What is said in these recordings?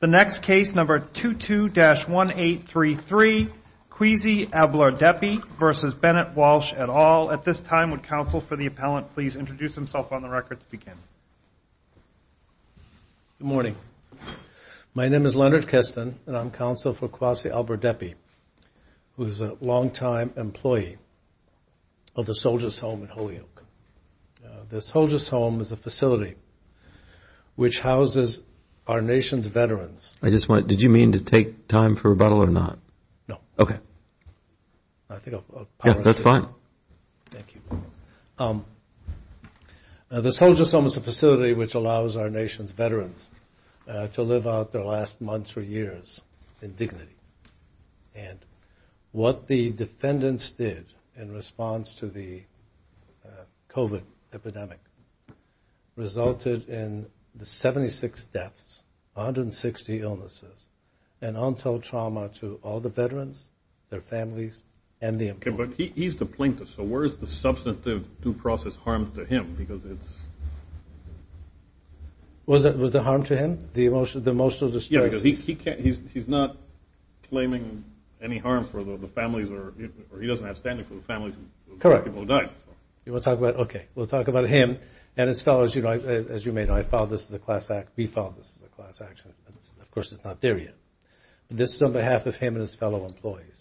The next case, number 22-1833, Kwasi Ablordepey v. Bennett Walsh et al. At this time, would counsel for the appellant please introduce himself on the record to begin? Good morning. My name is Leonard Keston and I'm counsel for Kwasi Ablordepey, who is a longtime employee of the Soldier's Home in Holyoke. This Soldier's Home is a facility which houses our nation's veterans. I just want to, did you mean to take time for rebuttal or not? No. Okay. That's fine. Thank you. This Soldier's Home is a facility which allows our nation's veterans to live out their last months or years in dignity. And what the defendants did in response to the COVID epidemic resulted in the 76 deaths, 160 illnesses, and untold trauma to all the veterans, their families, and the employees. But he's the plaintiff, so where is the substantive due process harmed to him? Because it's... Was the harm to him? The emotional distress? Yeah, because he's not claiming any harm for the families or he doesn't have standing for the families of the people who died. Correct. You want to talk about... Okay. We'll talk about him and his fellows. You know, as you may know, I filed this as a class act. We filed this as a class action. Of course, it's not there yet. This is on behalf of him and his fellow employees.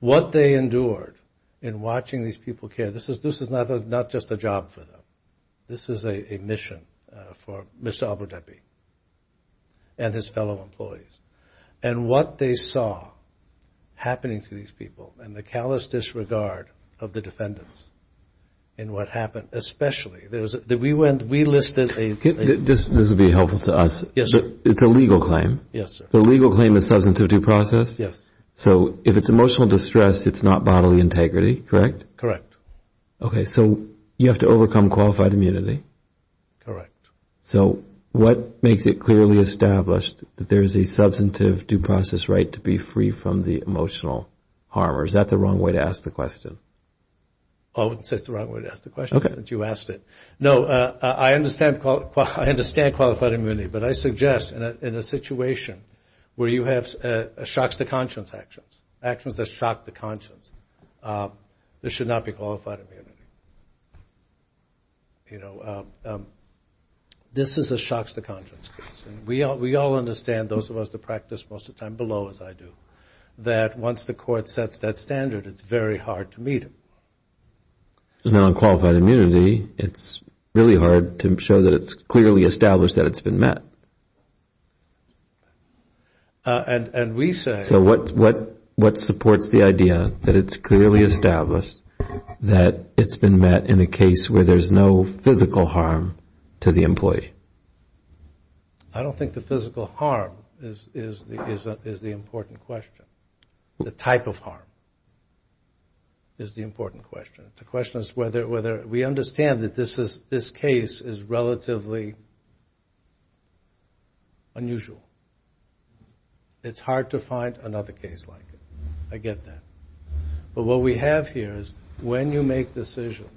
What they endured in watching these people care. This is not just a job for them. This is a mission for Mr. Ablordepey and his fellow employees. And what they saw happening to these people and the callous disregard of the defendants in what happened, especially... This would be helpful to us. Yes, sir. It's a legal claim. Yes, sir. The legal claim is substantive due process? Yes. So if it's emotional distress, it's not bodily integrity, correct? Correct. Okay, so you have to overcome qualified immunity? Correct. So what makes it clearly established that there is a substantive due process right to be free from the emotional harm? Or is that the wrong way to ask the question? I wouldn't say it's the wrong way to ask the question since you asked it. No, I understand qualified immunity. But I suggest in a situation where you have shocks to conscience actions, actions that shock the conscience, there should not be qualified immunity. You know, this is a shocks to conscience case. And we all understand, those of us that practice most of the time below as I do, that once the court sets that standard, it's very hard to meet it. And on qualified immunity, it's really hard to show that it's clearly established that it's been met. And we say... So what supports the idea that it's clearly established that it's been met in a case where there's no physical harm to the employee? I don't think the physical harm is the important question. The type of harm is the important question. The question is whether we understand that this case is relatively unusual. It's hard to find another case like it. I get that. But what we have here is when you make decisions,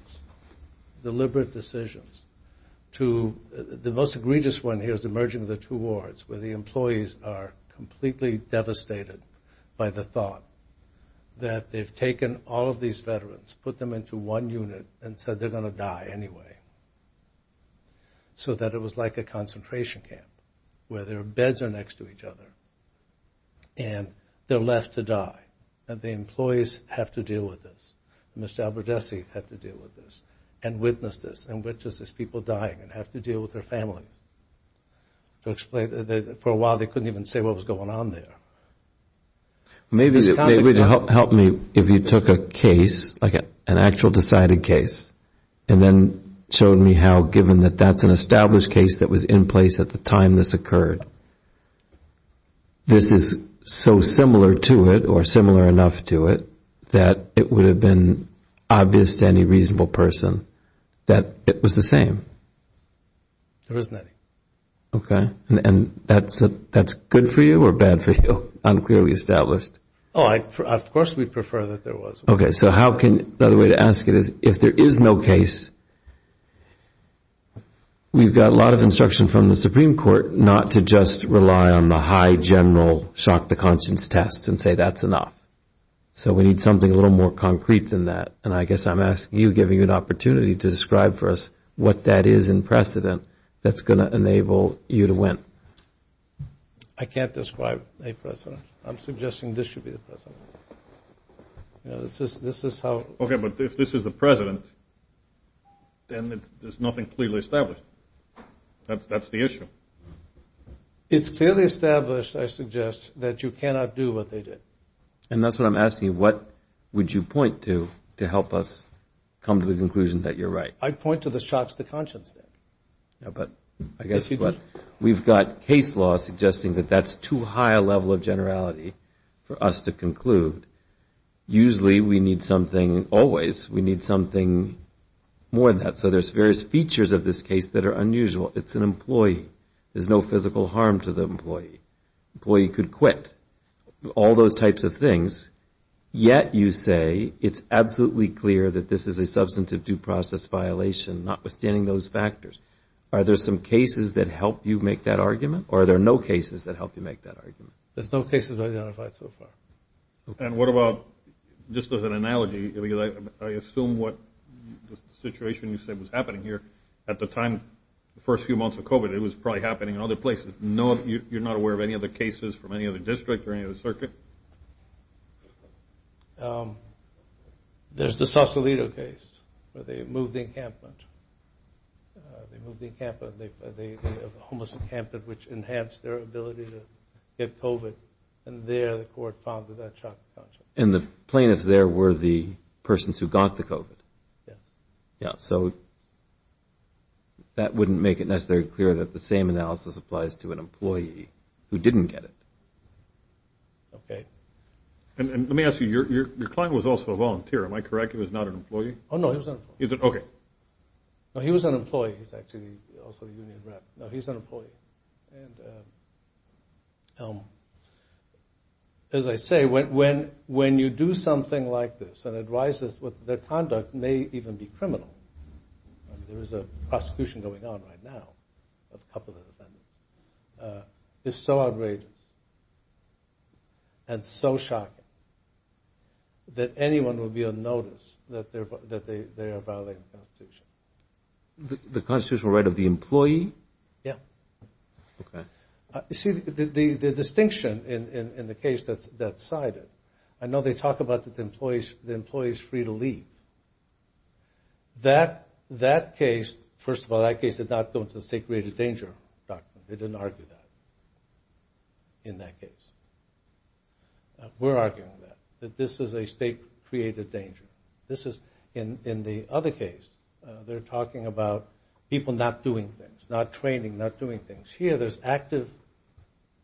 deliberate decisions to... The most egregious one here is the merging of the two wards, where the employees are completely devastated by the thought that they've taken all of these veterans, put them into one unit, and said they're going to die anyway. So that it was like a concentration camp where their beds are next to each other. And they're left to die. And the employees have to deal with this. Mr. Aberdessey had to deal with this. And witnessed this. And witnessed these people dying and have to deal with their families. For a while, they couldn't even say what was going on there. Maybe it would help me if you took a case, like an actual decided case, and then showed me how, given that that's an established case that was in place at the time this occurred, this is so similar to it or similar enough to it that it would have been obvious to any reasonable person that it was the same. There isn't any. Okay. And that's good for you or bad for you? Unclearly established. Oh, of course we'd prefer that there was. Okay. So how can... The other way to ask it is, if there is no case, we've got a lot of instruction from the Supreme Court not to just rely on the high general shock to conscience test and say that's enough. So we need something a little more concrete than that. And I guess I'm asking you, giving you an opportunity to describe for us what that is in precedent that's going to enable you to win. I can't describe a precedent. I'm suggesting this should be the precedent. This is how... Okay. But if this is the precedent, then there's nothing clearly established. That's the issue. It's clearly established, I suggest, that you cannot do what they did. And that's what I'm asking you. What would you point to, to help us come to the conclusion that you're right? I'd point to the shocks to conscience then. But I guess what... We've got case law suggesting that that's too high a level of generality for us to conclude. Usually we need something... Always we need something more than that. So there's various features of this case that are unusual. It's an employee. There's no physical harm to the employee. Employee could quit. All those types of things. Yet you say it's absolutely clear that this is a substantive due process violation, notwithstanding those factors. Are there some cases that help you make that argument? Or are there no cases that help you make that argument? There's no cases identified so far. And what about... Just as an analogy, I assume what the situation you said was happening here at the time, the first few months of COVID, it was probably happening in other places. You're not aware of any other cases from any other district or any other circuit? There's the Sausalito case where they moved the encampment. They moved the encampment. They have a homeless encampment which enhanced their ability to get COVID. And there the court found that that shocked the conscience. And the plaintiffs there were the persons who got the COVID? Yes. Yeah. So that wouldn't make it necessarily clear that the same analysis applies to an employee who didn't get it. Okay. And let me ask you, your client was also a volunteer. Am I correct? He was not an employee? Oh, no, he was not. Is it? Okay. No, he was an employee. He's actually also a union rep. No, he's an employee. And as I say, when you do something like this and it rises, their conduct may even be criminal. There is a prosecution going on right now of a couple of the defendants. It's so outrageous and so shocking that anyone will be on notice that they are violating the Constitution. The constitutional right of the employee? Yeah. Okay. You see, the distinction in the case that's cited, I know they talk about that the employees free to leave. That case, first of all, that case did not go into the state-created danger document. They didn't argue that in that case. We're arguing that, that this is a state-created danger. This is in the other case, they're talking about people not doing things, not training, not doing things. Here, there's active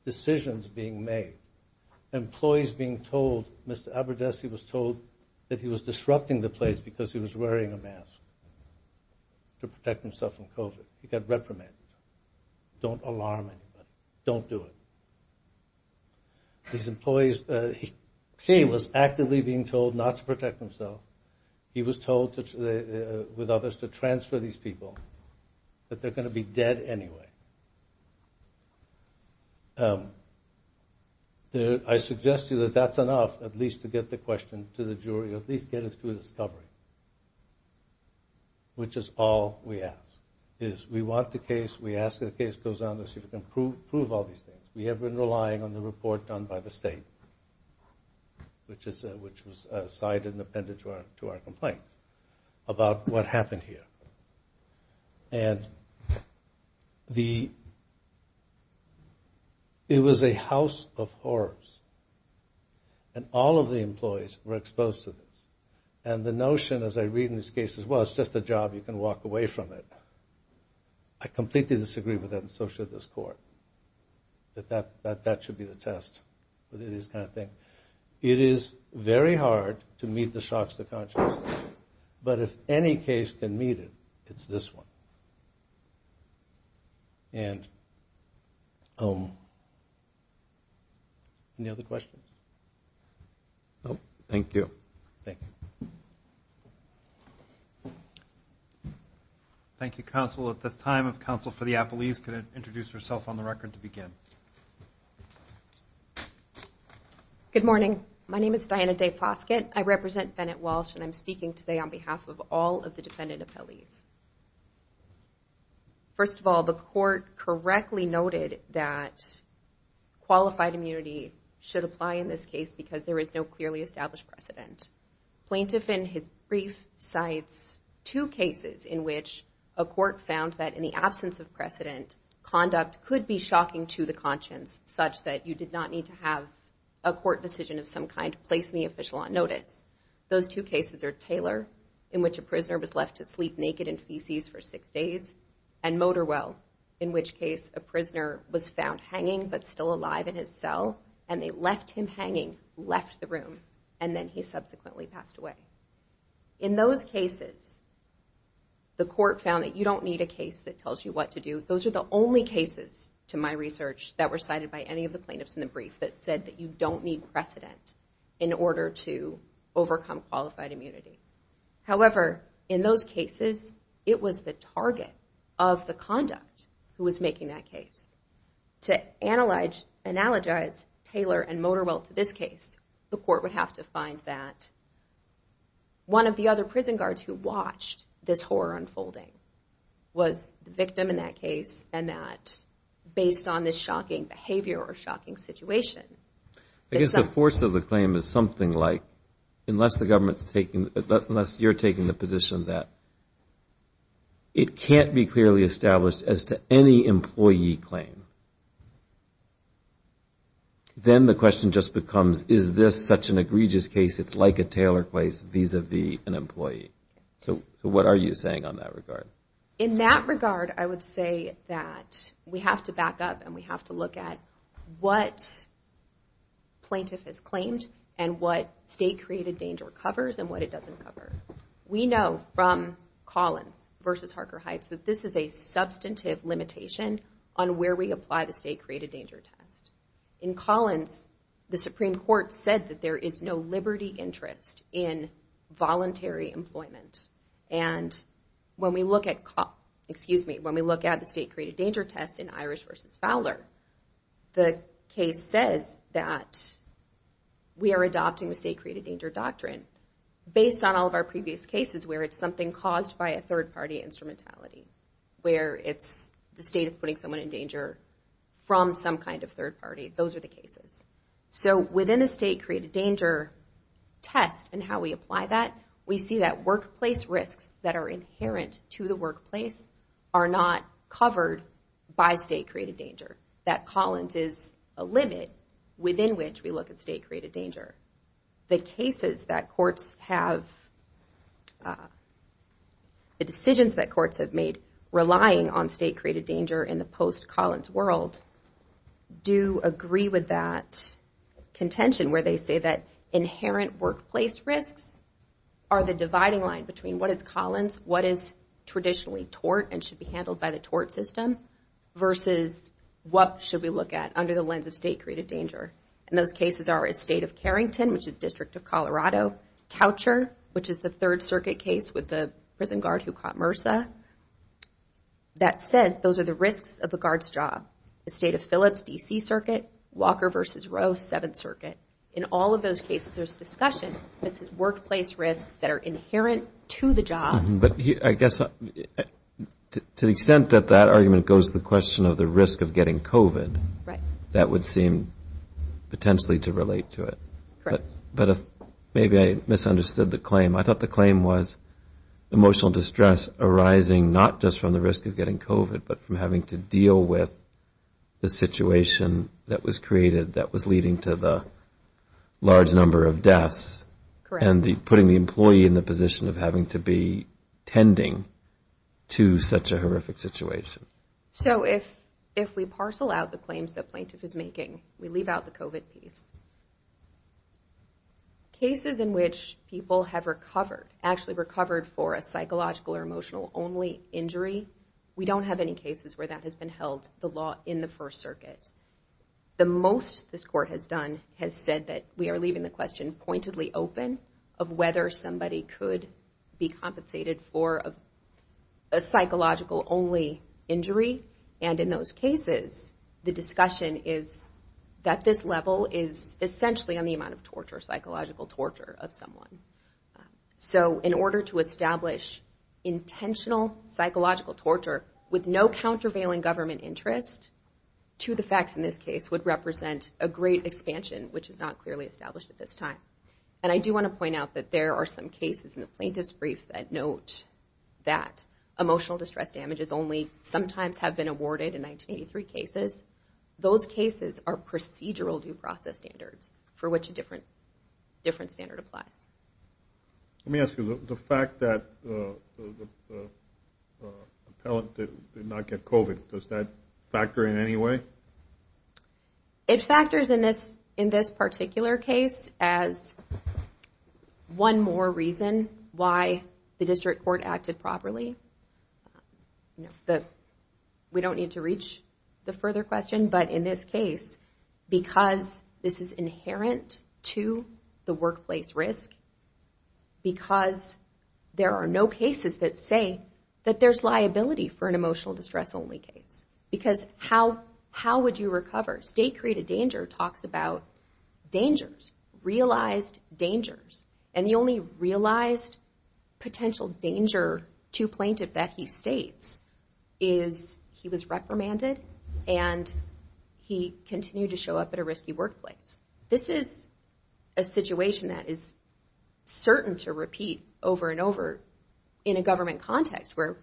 decisions being made, employees being told, Mr. Aberdessey was told that he was disrupting the place because he was wearing a mask to protect himself from COVID. He got reprimanded. Don't alarm anybody. Don't do it. These employees, he was actively being told not to protect himself. He was told with others to transfer these people, that they're going to be dead anyway. So, I suggest to you that that's enough, at least to get the question to the jury, at least get us to a discovery, which is all we ask, is we want the case. We ask that the case goes on so we can prove all these things. We have been relying on the report done by the state, which was cited and appended to our complaint about what happened here. And the, it was a house of horrors, and all of the employees were exposed to this. And the notion, as I read in these cases, well, it's just a job. You can walk away from it. I completely disagree with that, and so should this court, that that should be the test for these kind of things. It is very hard to meet the shocks to consciousness, but if any case can meet it, it's this one. And, any other questions? No. Thank you. Thank you. Thank you, counsel. At this time, if counsel for the appellees could introduce herself on the record to begin. Good morning. My name is Diana Day Foskett. I represent Bennett Walsh, and I'm speaking today on behalf of all of the defendant appellees. First of all, the court correctly noted that qualified immunity should apply in this case because there is no clearly established precedent. Plaintiff, in his brief, cites two cases in which a court found that in the absence of precedent, conduct could be shocking to the conscience, such that you did not need to have a court decision of some kind placed in the official on notice. Those two cases are Taylor, in which a prisoner was left to sleep naked in feces for six days, and Motorwell, in which case a prisoner was found hanging but still alive in his cell, and they left him hanging, left the room, and then he subsequently passed away. In those cases, the court found that you don't need a case that tells you what to do. Those are the only cases to my research that were cited by any of the plaintiffs in the brief that that you don't need precedent in order to overcome qualified immunity. However, in those cases, it was the target of the conduct who was making that case. To analogize Taylor and Motorwell to this case, the court would have to find that one of the other prison guards who watched this horror unfolding was the victim in that case, and that based on this shocking behavior or shocking situation. I guess the force of the claim is something like, unless you're taking the position that it can't be clearly established as to any employee claim, then the question just becomes, is this such an egregious case? It's like a Taylor case vis-a-vis an employee. So what are you saying on that regard? In that regard, I would say that we have to back up and we have to look at what plaintiff has claimed and what state-created danger covers and what it doesn't cover. We know from Collins versus Harker Heights that this is a substantive limitation on where we apply the state-created danger test. In Collins, the Supreme Court said that there is no liberty interest in voluntary employment. And when we look at the state-created danger test in Irish versus Fowler, the case says that we are adopting the state-created danger doctrine based on all of our previous cases where it's something caused by a third-party instrumentality, where the state is putting someone in danger from some kind of third party. Those are the cases. So within the state-created danger test and how we apply that, we see that workplace risks that are inherent to the workplace are not covered by state-created danger, that Collins is a limit within which we look at state-created danger. The cases that courts have, the decisions that courts have made relying on state-created danger in the post-Collins world do agree with that contention where they say that inherent workplace risks are the dividing line between what is Collins, what is traditionally tort and should be handled by the tort system versus what should we look at under the lens of state-created danger. And those cases are a state of Carrington, which is District of Colorado. Coucher, which is the Third Circuit case with the prison guard who caught MRSA, that says those are the risks of the guard's job. The state of Phillips, D.C. Circuit. Walker versus Roe, Seventh Circuit. In all of those cases, there's a discussion that says workplace risks that are inherent to the job. But I guess to the extent that that argument goes to the question of the risk of getting COVID, that would seem potentially to relate to it. Correct. But maybe I misunderstood the claim. I thought the claim was emotional distress arising not just from the risk of getting COVID, but from having to deal with the situation that was created, that was leading to the large number of deaths. Correct. And putting the employee in the position of having to be tending to such a horrific situation. So if we parcel out the claims the plaintiff is making, we leave out the COVID piece. Cases in which people have recovered, actually recovered for a psychological or emotional only injury, we don't have any cases where that has been held the law in the First Circuit. The most this court has done has said that we are leaving the question pointedly open of whether somebody could be compensated for a psychological only injury. And in those cases, the discussion is that this level is essentially on the amount of torture, psychological torture of someone. So in order to establish intentional psychological torture with no countervailing government interest to the facts in this case would represent a great expansion, which is not clearly established at this time. And I do want to point out that there are some cases in the plaintiff's brief that note that emotional distress damages only sometimes have been awarded in 1983 cases. Those cases are procedural due process standards for which a different standard applies. Let me ask you, the fact that the appellant did not get COVID, does that factor in any way? It factors in this particular case as one more reason why the district court acted properly. We don't need to reach the further question, but in this case, because this is inherent to the workplace risk, because there are no cases that say that there's liability for an emotional distress only case. Because how would you recover? State created danger talks about dangers, realized dangers. And the only realized potential danger to plaintiff that he states is he was reprimanded and he continued to show up at a risky workplace. This is a situation that is certain to repeat over and over in a government context where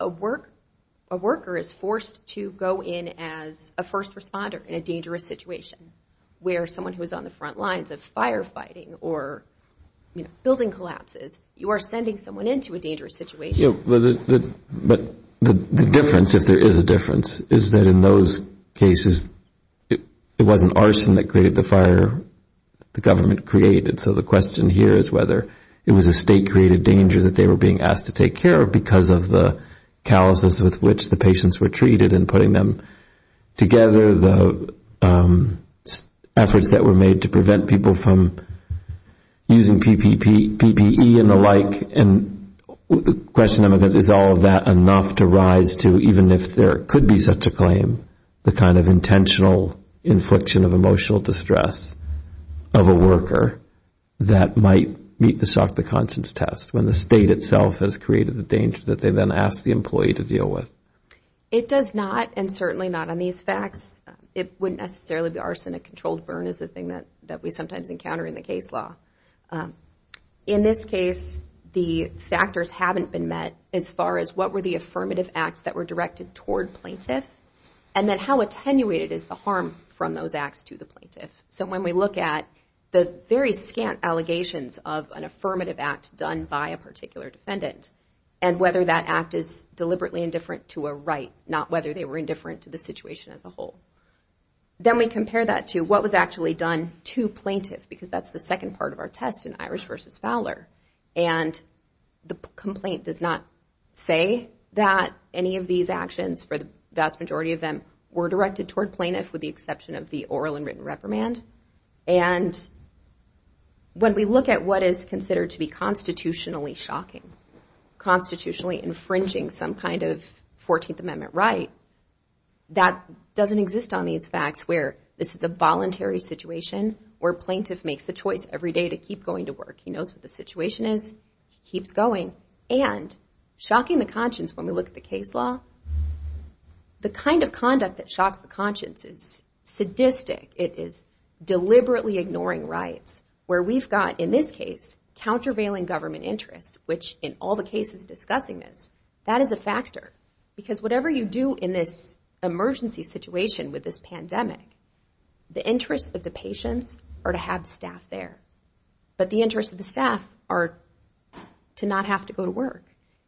a worker is forced to go in as a first responder in a dangerous situation, where someone who is on the front lines of firefighting or building collapses, you are sending someone into a dangerous situation. But the difference, if there is a difference, is that in those cases, it wasn't arson that created the fire, the government created. So the question here is whether it was a state created danger that they were being asked to take care of because of the calluses with which the patients were treated and putting them together, the efforts that were made to prevent people from using PPE and the like. And the question is, is all of that enough to rise to, even if there could be such a claim, the kind of intentional infliction of emotional distress of a worker that might meet the Sock the Constance test, when the state itself has created the danger that they then ask the employee to deal with? It does not, and certainly not on these facts. It wouldn't necessarily be arson. A controlled burn is the thing that we sometimes encounter in the case law. In this case, the factors haven't been met as far as what were the affirmative acts that were directed toward plaintiff, and then how attenuated is the harm from those acts to the plaintiff. So when we look at the very scant allegations of an affirmative act done by a particular defendant, and whether that act is deliberately indifferent to a right, not whether they were indifferent to the situation as a whole. Then we compare that to what was actually done to plaintiff, because that's the second part of our test in Irish versus Fowler. And the complaint does not say that any of these actions, for the vast majority of them, were directed toward plaintiff with the exception of the oral and written reprimand. And when we look at what is considered to be constitutionally shocking, constitutionally infringing some kind of 14th Amendment right, that doesn't exist on these facts where this is a voluntary situation, where plaintiff makes the choice every day to keep going to work. He knows what the situation is, he keeps going. And shocking the conscience, when we look at the case law, the kind of conduct that shocks the conscience is sadistic. It is deliberately ignoring rights, where we've got, in this case, countervailing government interests, which in all the cases discussing this, that is a factor. Because whatever you do in this emergency situation with this pandemic, the interests of the patients are to have the staff there, but the interests of the staff are to not have to go to work.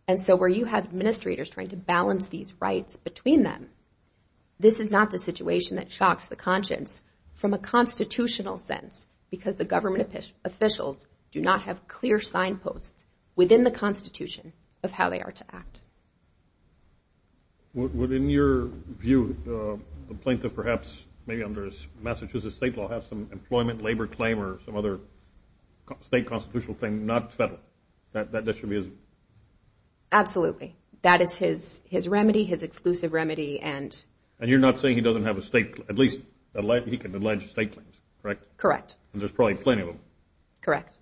And so where you have administrators trying to balance these rights between them, this is not the situation that shocks the conscience from a constitutional sense, because the government officials do not have clear signposts within the constitution of how they are to act. Would, in your view, a plaintiff perhaps, maybe under Massachusetts state law, have some employment, labor claim, or some other state constitutional claim, not federal? That that should be his... Absolutely. That is his remedy, his exclusive remedy, and... And you're not saying he doesn't have a state, at least, he can allege state claims, correct? Correct. And there's probably plenty of them. Correct.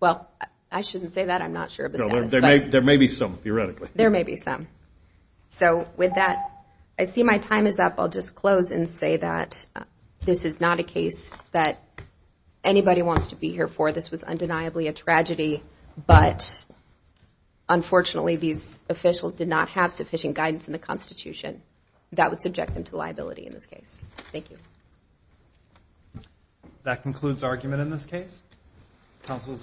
Well, I shouldn't say that, I'm not sure of the status, but... There may be some, theoretically. There may be some. So with that, I see my time is up. I'll just close and say that this is not a case that anybody wants to be here for. This was undeniably a tragedy, but unfortunately, these officials did not have sufficient guidance in the constitution that would subject them to liability in this case. Thank you. That concludes argument in this case. Counsel is excused.